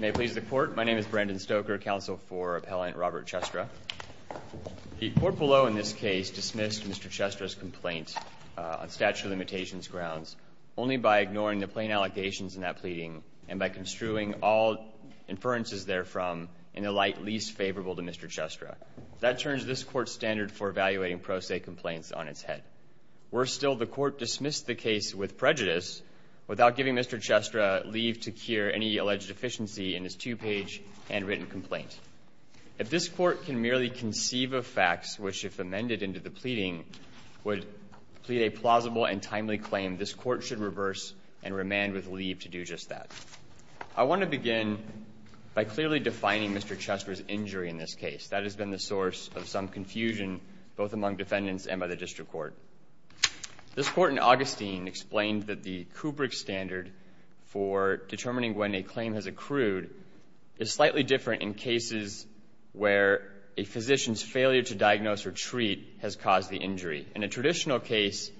May it please the Court, my name is Brandon Stoker, Counsel for Appellant Robert Chestra. The Court below in this case dismissed Mr. Chestra's complaint on statute of limitations grounds only by ignoring the plain allegations in that pleading and by construing all inferences therefrom in a light least favorable to Mr. Chestra. That turns this Court's standard for evaluating pro se complaints on its head. Worse still, the Court dismissed the case with prejudice without giving Mr. Chestra leave to cure any alleged deficiency in his two-page handwritten complaint. If this Court can merely conceive of facts which, if amended into the pleading, would plead a plausible and timely claim, this Court should reverse and remand with leave to do just that. I want to begin by clearly defining Mr. Chestra's injury in this case. That has been the source of some confusion both among defendants and by the District Court. This Court in Augustine explained that the Kubrick standard for determining when a claim has accrued is slightly different in cases where a physician's failure to diagnose or treat has caused the injury. In a traditional case,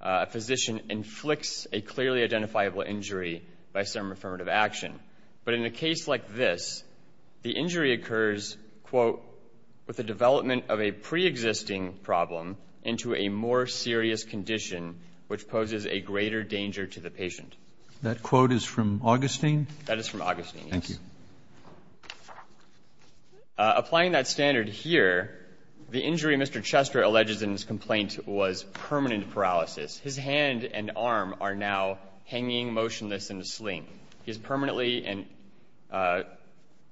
a physician inflicts a clearly identifiable injury by some affirmative action. But in a case like this, the injury occurs, quote, with the development of a preexisting problem into a more serious condition which poses a greater danger to the patient. That quote is from Augustine? That is from Augustine, yes. Thank you. Applying that standard here, the injury Mr. Chestra alleges in his complaint was permanent paralysis. His hand and arm are now hanging motionless in a sling. He is permanently and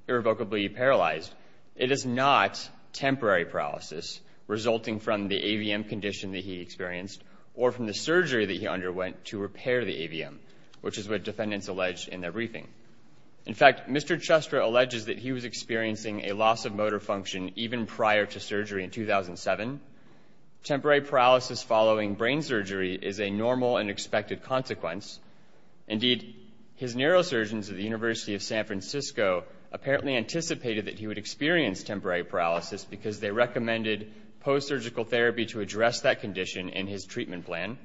irrevocably paralyzed. It is not temporary paralysis resulting from the AVM condition that he experienced or from the surgery that he underwent to repair the AVM, which is what defendants alleged in their briefing. In fact, Mr. Chestra alleges that he was experiencing a loss of motor function even prior to surgery in 2007. Temporary paralysis following brain surgery is a normal and expected consequence. Indeed, his neurosurgeons at the University of San Francisco apparently anticipated that he would experience temporary paralysis because they recommended post-surgical therapy to address that condition in his treatment plan.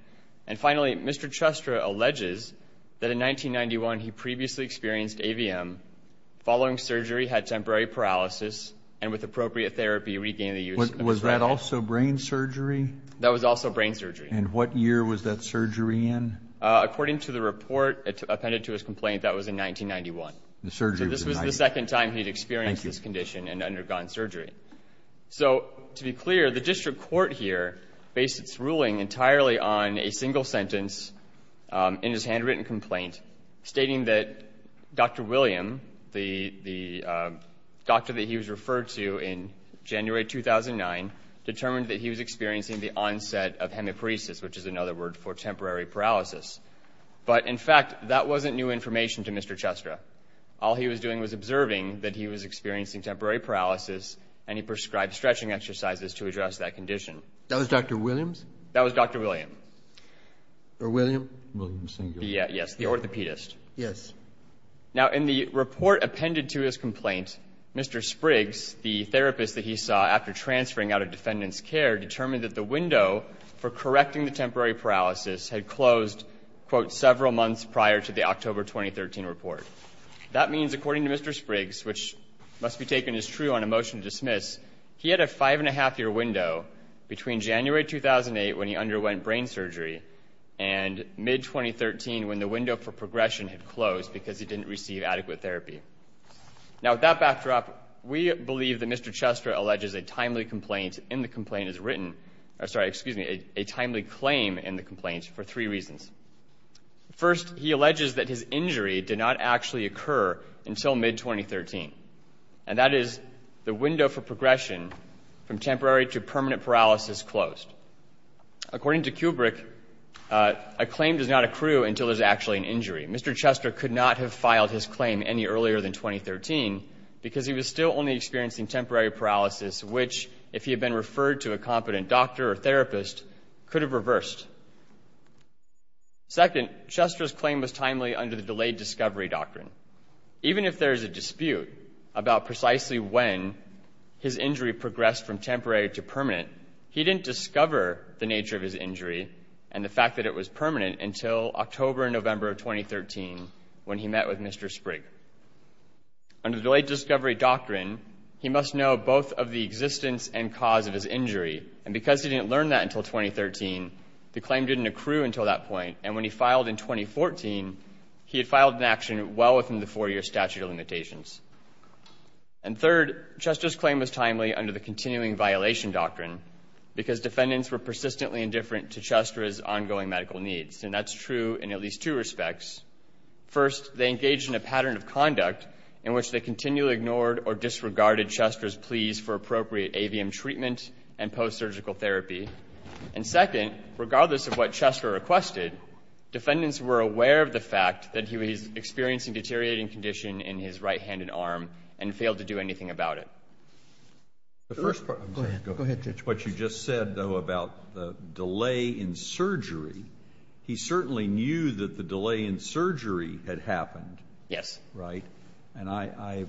And finally, Mr. Chestra alleges that in 1991 he previously experienced AVM, following surgery had temporary paralysis, and with appropriate therapy regained the use of his retina. Was that also brain surgery? That was also brain surgery. And what year was that surgery in? According to the report appended to his complaint, that was in 1991. So this was the second time he had experienced this condition and undergone surgery. So to be clear, the district court here based its ruling entirely on a single sentence in his handwritten complaint stating that Dr. William, the doctor that he was referred to in January 2009, determined that he was experiencing the onset of hemiparesis, which is another word for temporary paralysis. But, in fact, that wasn't new information to Mr. Chestra. All he was doing was observing that he was experiencing temporary paralysis and he prescribed stretching exercises to address that condition. That was Dr. Williams? That was Dr. William. Or William? William Singleton. Yes, the orthopedist. Yes. Now, in the report appended to his complaint, Mr. Spriggs, the therapist that he saw after transferring out of defendant's care, determined that the window for correcting the temporary paralysis had closed, quote, several months prior to the October 2013 report. That means, according to Mr. Spriggs, which must be taken as true on a motion to dismiss, he had a five-and-a-half-year window between January 2008 when he underwent brain surgery and mid-2013 when the window for progression had closed because he didn't receive adequate therapy. Now, with that backdrop, we believe that Mr. Chestra alleges a timely complaint in the complaint as written or, sorry, excuse me, a timely claim in the complaint for three reasons. First, he alleges that his injury did not actually occur until mid-2013, and that is the window for progression from temporary to permanent paralysis closed. According to Kubrick, a claim does not accrue until there's actually an injury. Mr. Chestra could not have filed his claim any earlier than 2013 because he was still only experiencing temporary paralysis, which, if he had been referred to a competent doctor or therapist, could have reversed. Second, Chestra's claim was timely under the delayed discovery doctrine. Even if there is a dispute about precisely when his injury progressed from temporary to permanent, he didn't discover the nature of his injury and the fact that it was permanent until October and November of 2013 when he met with Mr. Sprigg. Under the delayed discovery doctrine, he must know both of the existence and cause of his injury, and because he didn't learn that until 2013, the claim didn't accrue until that point, and when he filed in 2014, he had filed an action well within the four-year statute of limitations. And third, Chestra's claim was timely under the continuing violation doctrine because defendants were persistently indifferent to Chestra's ongoing medical needs, and that's true in at least two respects. First, they engaged in a pattern of conduct in which they continually ignored or disregarded Chestra's pleas for appropriate AVM treatment and post-surgical therapy. And second, regardless of what Chestra requested, defendants were aware of the fact that he was experiencing deteriorating condition in his right hand and arm and failed to do anything about it. The first part of what you just said, though, about the delay in surgery, he certainly knew that the delay in surgery had happened. Yes. Right? And I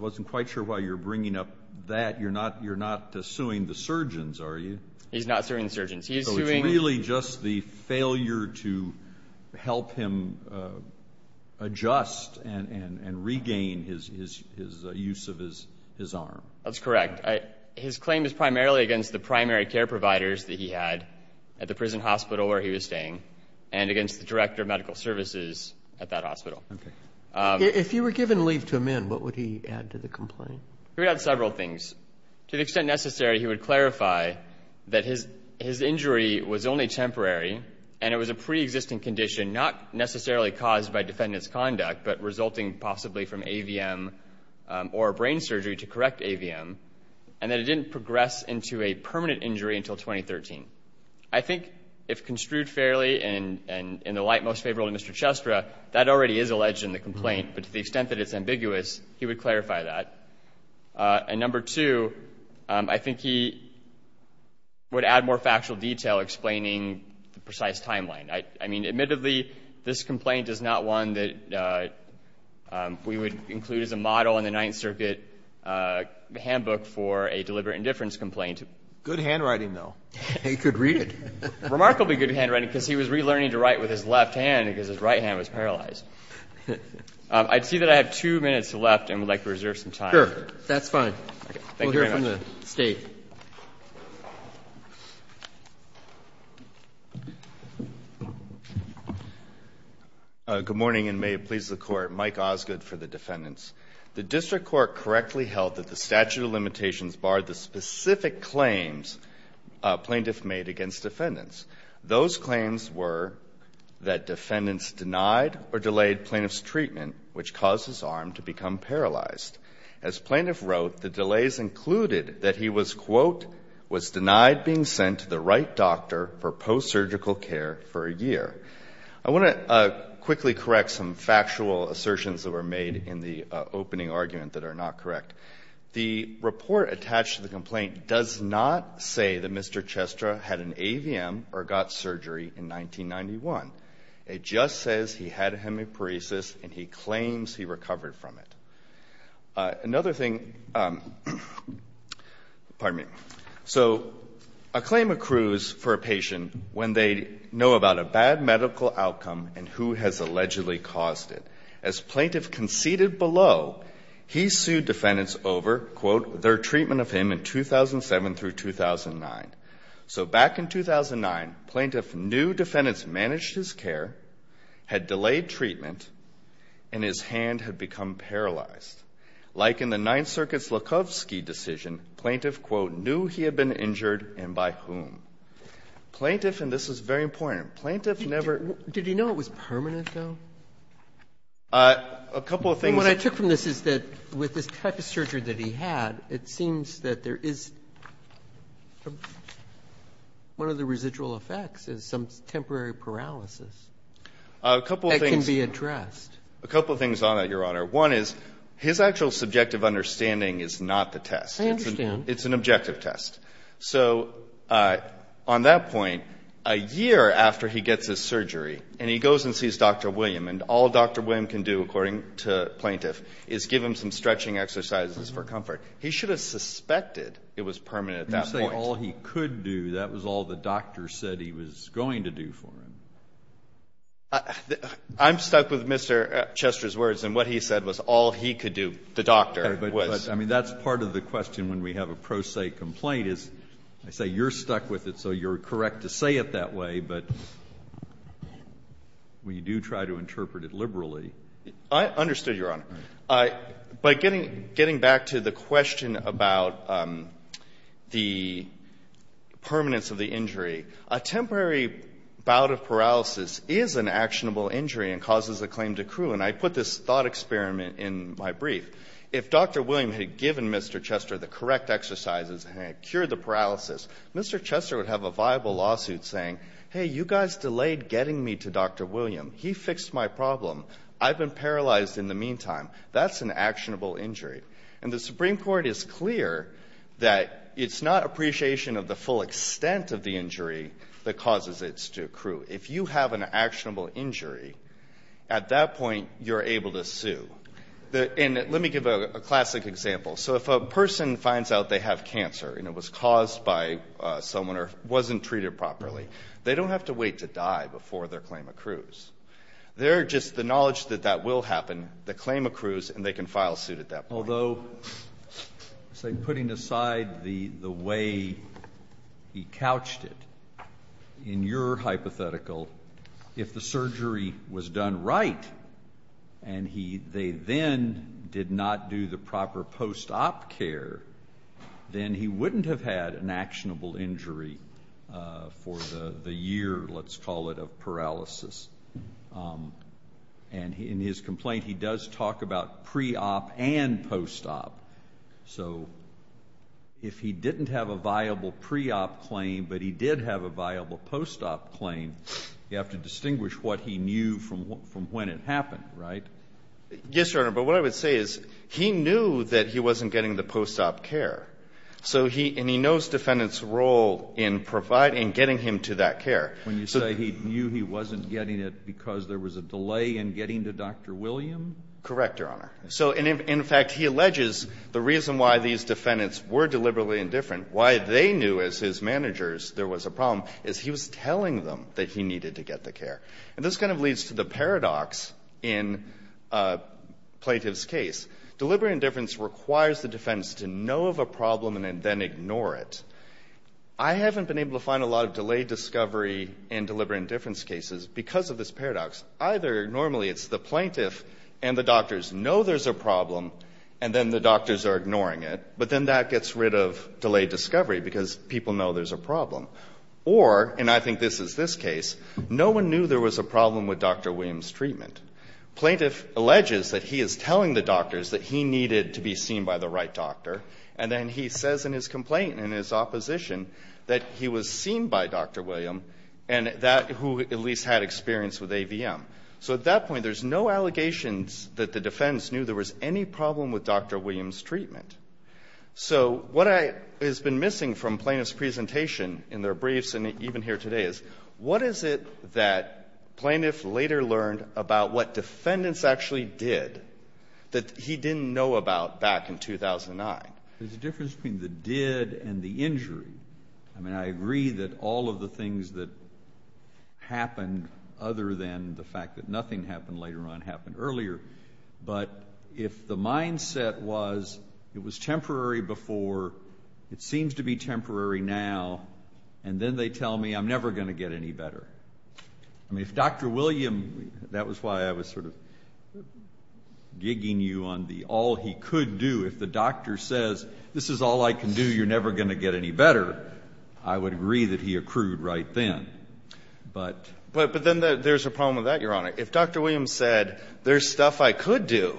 wasn't quite sure why you're bringing up that. You're not suing the surgeons, are you? He's not suing the surgeons. He's suing the doctors. And I'm just wondering, do you think he was at all willing to have a doctor come in to help him adjust and regain his use of his arm? That's correct. His claim is primarily against the primary care providers that he had at the prison hospital where he was staying and against the director of medical services at that hospital. Okay. If you were given leave to amend, what would he add to the complaint? He would add several things. To the extent necessary, he would clarify that his injury was only temporary and it was a preexisting condition, not necessarily caused by defendant's conduct, but resulting possibly from AVM or brain surgery to correct AVM, and that it didn't progress into a permanent injury until 2013. I think if construed fairly and in the light most favorable to Mr. Chestra, that already is alleged in the complaint. But to the extent that it's ambiguous, he would clarify that. And number two, I think he would add more factual detail explaining the precise timeline. I mean, admittedly, this complaint is not one that we would include as a model in the Ninth Circuit handbook for a deliberate indifference complaint. Good handwriting, though. He could read it. Remarkably good handwriting, because he was relearning to write with his left hand because his right hand was paralyzed. I see that I have two minutes left and would like to reserve some time. Sure. That's fine. Thank you very much. We'll hear from the State. Good morning, and may it please the Court. Mike Osgood for the defendants. The district court correctly held that the statute of limitations barred the specific claims plaintiffs made against defendants. Those claims were that defendants denied or delayed plaintiff's treatment, which caused his arm to become paralyzed. As plaintiff wrote, the delays included that he was, quote, was denied being sent to the right doctor for post-surgical care for a year. I want to quickly correct some factual assertions that were made in the opening argument that are not correct. The report attached to the complaint does not say that Mr. Chestra had an AVM or got surgery in 1991. It just says he had a hemiparesis and he claims he recovered from it. Another thing, pardon me. So a claim accrues for a patient when they know about a bad medical outcome and who has allegedly caused it. As plaintiff conceded below, he sued defendants over, quote, their treatment of him in 2007 through 2009. So back in 2009, plaintiff knew defendants managed his care, had delayed treatment, and his hand had become paralyzed. Like in the Ninth Circuit's Lukovsky decision, plaintiff, quote, knew he had been injured and by whom. Plaintiff, and this is very important, plaintiff never --- A couple of things. And what I took from this is that with this type of surgery that he had, it seems that there is one of the residual effects is some temporary paralysis that can be addressed. A couple of things on that, Your Honor. One is his actual subjective understanding is not the test. I understand. It's an objective test. So on that point, a year after he gets his surgery and he goes and sees Dr. William and all Dr. William can do, according to plaintiff, is give him some stretching exercises for comfort. He should have suspected it was permanent at that point. You say all he could do. That was all the doctor said he was going to do for him. I'm stuck with Mr. Chester's words. And what he said was all he could do, the doctor, was. But, I mean, that's part of the question when we have a pro se complaint is, I say you're stuck with it, so you're correct to say it that way. But we do try to interpret it liberally. I understood, Your Honor. By getting back to the question about the permanence of the injury, a temporary bout of paralysis is an actionable injury and causes a claim to accrue. And I put this thought experiment in my brief. If Dr. William had given Mr. Chester the correct exercises and had cured the paralysis, Mr. Chester would have a viable lawsuit saying, hey, you guys delayed getting me to Dr. William. He fixed my problem. I've been paralyzed in the meantime. That's an actionable injury. And the Supreme Court is clear that it's not appreciation of the full extent of the injury that causes it to accrue. If you have an actionable injury, at that point you're able to sue. And let me give a classic example. So if a person finds out they have cancer and it was caused by someone or wasn't treated properly, they don't have to wait to die before their claim accrues. They're just the knowledge that that will happen, the claim accrues, and they can file suit at that point. Although, say, putting aside the way he couched it, in your hypothetical, if the care, then he wouldn't have had an actionable injury for the year, let's call it, of paralysis. And in his complaint, he does talk about pre-op and post-op. So if he didn't have a viable pre-op claim but he did have a viable post-op claim, you have to distinguish what he knew from when it happened, right? Yes, Your Honor. But what I would say is he knew that he wasn't getting the post-op care. So he – and he knows defendants' role in providing, in getting him to that care. When you say he knew he wasn't getting it because there was a delay in getting to Dr. William? Correct, Your Honor. So in fact, he alleges the reason why these defendants were deliberately indifferent, why they knew as his managers there was a problem, is he was telling them that he needed to get the care. And this kind of leads to the paradox in a plaintiff's case. Deliberate indifference requires the defense to know of a problem and then ignore it. I haven't been able to find a lot of delayed discovery in deliberate indifference cases because of this paradox. Either normally it's the plaintiff and the doctors know there's a problem and then the doctors are ignoring it, but then that gets rid of delayed discovery because people know there's a problem. Or, and I think this is this case, no one knew there was a problem with Dr. William's treatment. Plaintiff alleges that he is telling the doctors that he needed to be seen by the right doctor, and then he says in his complaint, in his opposition, that he was seen by Dr. William and that – who at least had experience with AVM. So at that point, there's no allegations that the defense knew there was any problem with Dr. William's treatment. So what I – has been missing from plaintiff's presentation in their briefs and even here today is, what is it that plaintiff later learned about what defendants actually did that he didn't know about back in 2009? There's a difference between the did and the injury. I mean, I agree that all of the things that happened other than the fact that nothing happened later on happened earlier, but if the mindset was it was temporary before, it seems to be temporary now, and then they tell me I'm never going to get any better. I mean, if Dr. William – that was why I was sort of gigging you on the all he could do. If the doctor says this is all I can do, you're never going to get any better, I would agree that he accrued right then. But – if Dr. William said there's stuff I could do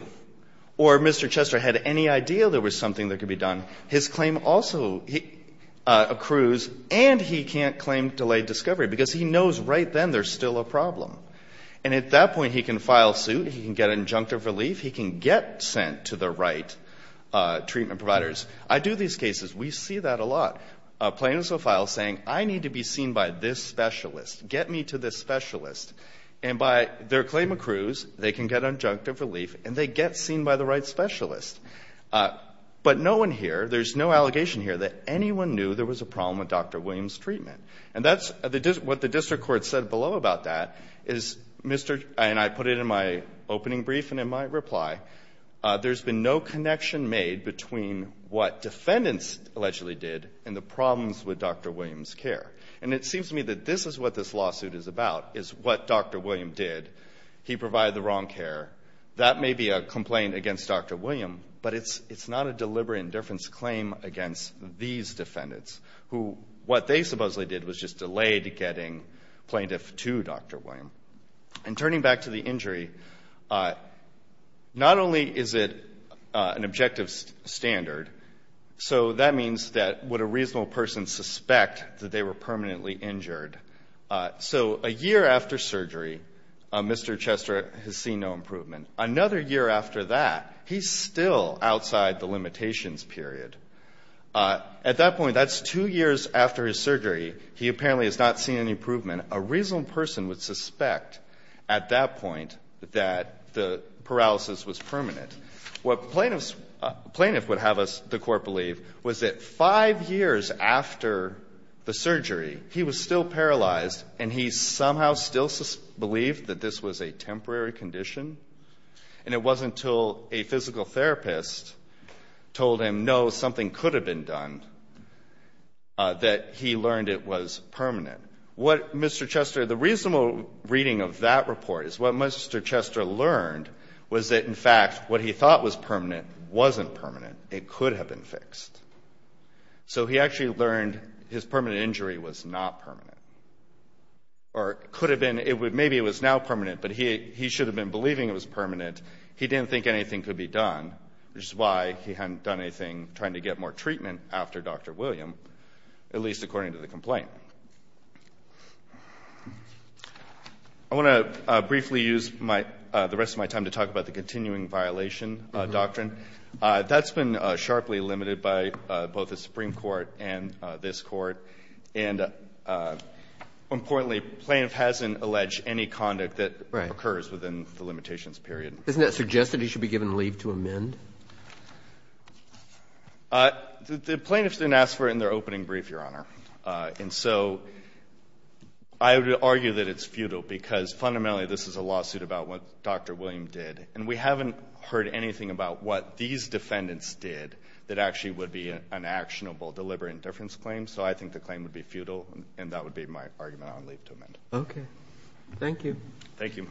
or Mr. Chester had any idea there was something that could be done, his claim also accrues and he can't claim delayed discovery because he knows right then there's still a problem. And at that point, he can file suit, he can get an injunctive relief, he can get sent to the right treatment providers. I do these cases. We see that a lot. Plaintiffs will file saying I need to be seen by this specialist. Get me to this specialist. And by their claim accrues, they can get injunctive relief and they get seen by the right specialist. But no one here, there's no allegation here that anyone knew there was a problem with Dr. William's treatment. And that's what the district court said below about that is Mr. – and I put it in my opening brief and in my reply. There's been no connection made between what defendants allegedly did and the problems with Dr. William's care. And it seems to me that this is what this lawsuit is about is what Dr. William did. He provided the wrong care. That may be a complaint against Dr. William, but it's not a deliberate indifference claim against these defendants who what they supposedly did was just delayed getting plaintiff to Dr. William. And turning back to the injury, not only is it an objective standard, so that means that would a reasonable person suspect that they were permanently injured. So a year after surgery, Mr. Chester has seen no improvement. Another year after that, he's still outside the limitations period. At that point, that's two years after his surgery, he apparently has not seen any improvement. A reasonable person would suspect at that point that the paralysis was permanent. What plaintiffs would have us, the Court believe, was that five years after the surgery, he was still paralyzed and he somehow still believed that this was a temporary condition. And it wasn't until a physical therapist told him, no, something could have been done, that he learned it was permanent. What Mr. Chester, the reasonable reading of that report is what Mr. Chester learned was that, in fact, what he thought was permanent wasn't permanent. It could have been fixed. So he actually learned his permanent injury was not permanent. Or it could have been, maybe it was now permanent, but he should have been believing it was permanent. He didn't think anything could be done, which is why he hadn't done anything trying to get more treatment after Dr. William, at least according to the complaint. I want to briefly use my – the rest of my time to talk about the continuing violation doctrine. That's been sharply limited by both the Supreme Court and this Court. And importantly, plaintiff hasn't alleged any conduct that occurs within the limitations period. Isn't it suggested he should be given leave to amend? And so I would argue that it's futile, because fundamentally this is a lawsuit about what Dr. William did. And we haven't heard anything about what these defendants did that actually would be an actionable deliberate indifference claim. So I think the claim would be futile, and that would be my argument on leave to amend. Okay. Thank you. Thank you.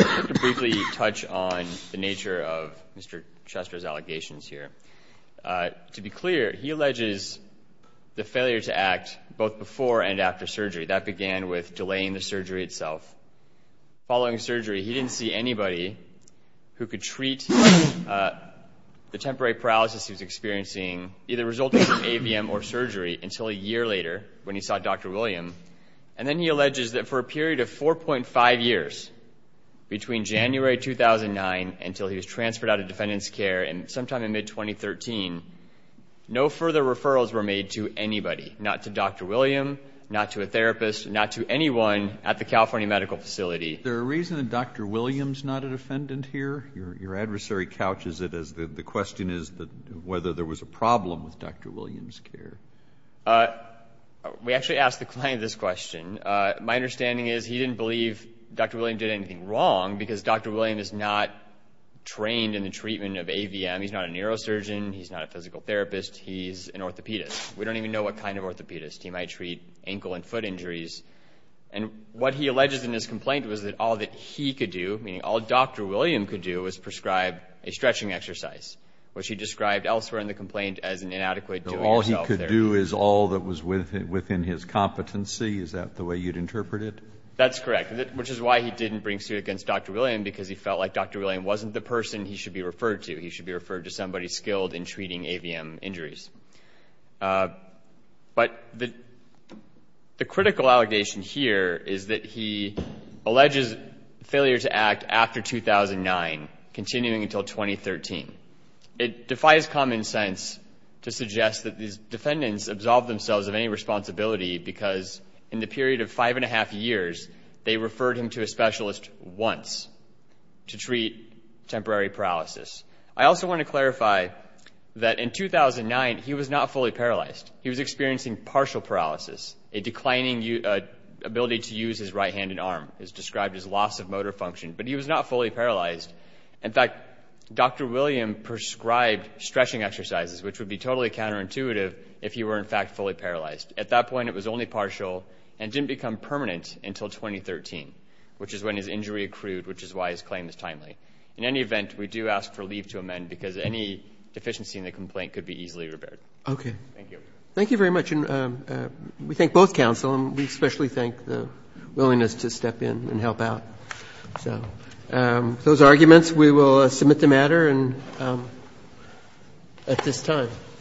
I'd like to briefly touch on the nature of Mr. Chester's allegations here. To be clear, he alleges the failure to act both before and after surgery. That began with delaying the surgery itself. Following surgery, he didn't see anybody who could treat the temporary paralysis he later, when he saw Dr. William. And then he alleges that for a period of 4.5 years, between January 2009 until he was transferred out of defendant's care sometime in mid-2013, no further referrals were made to anybody, not to Dr. William, not to a therapist, not to anyone at the California Medical Facility. Is there a reason that Dr. William is not a defendant here? Your adversary couches it as the question is whether there was a problem with Dr. William's care. We actually asked the client this question. My understanding is he didn't believe Dr. William did anything wrong, because Dr. William is not trained in the treatment of AVM. He's not a neurosurgeon. He's not a physical therapist. He's an orthopedist. We don't even know what kind of orthopedist. He might treat ankle and foot injuries. And what he alleges in his complaint was that all that he could do, meaning all Dr. William could do, was prescribe a stretching exercise, which he described elsewhere in the complaint as an inadequate doing. All he could do is all that was within his competency. Is that the way you'd interpret it? That's correct, which is why he didn't bring suit against Dr. William, because he felt like Dr. William wasn't the person he should be referred to. He should be referred to somebody skilled in treating AVM injuries. But the critical allegation here is that he alleges failure to act after 2009, continuing until 2013. It defies common sense to suggest that these defendants absolved themselves of any responsibility, because in the period of five and a half years, they referred him to a specialist once to treat temporary paralysis. I also want to clarify that in 2009, he was not fully paralyzed. He was experiencing partial paralysis, a declining ability to use his right hand and arm, as described as loss of motor function. But he was not fully paralyzed. In fact, Dr. William prescribed stretching exercises, which would be totally counterintuitive if he were, in fact, fully paralyzed. At that point, it was only partial and didn't become permanent until 2013, which is when his injury accrued, which is why his claim is timely. In any event, we do ask for leave to amend, because any deficiency in the complaint could be easily repaired. Thank you. Thank you very much. And we thank both counsel, and we especially thank the willingness to step in and help out. So with those arguments, we will submit the matter at this time.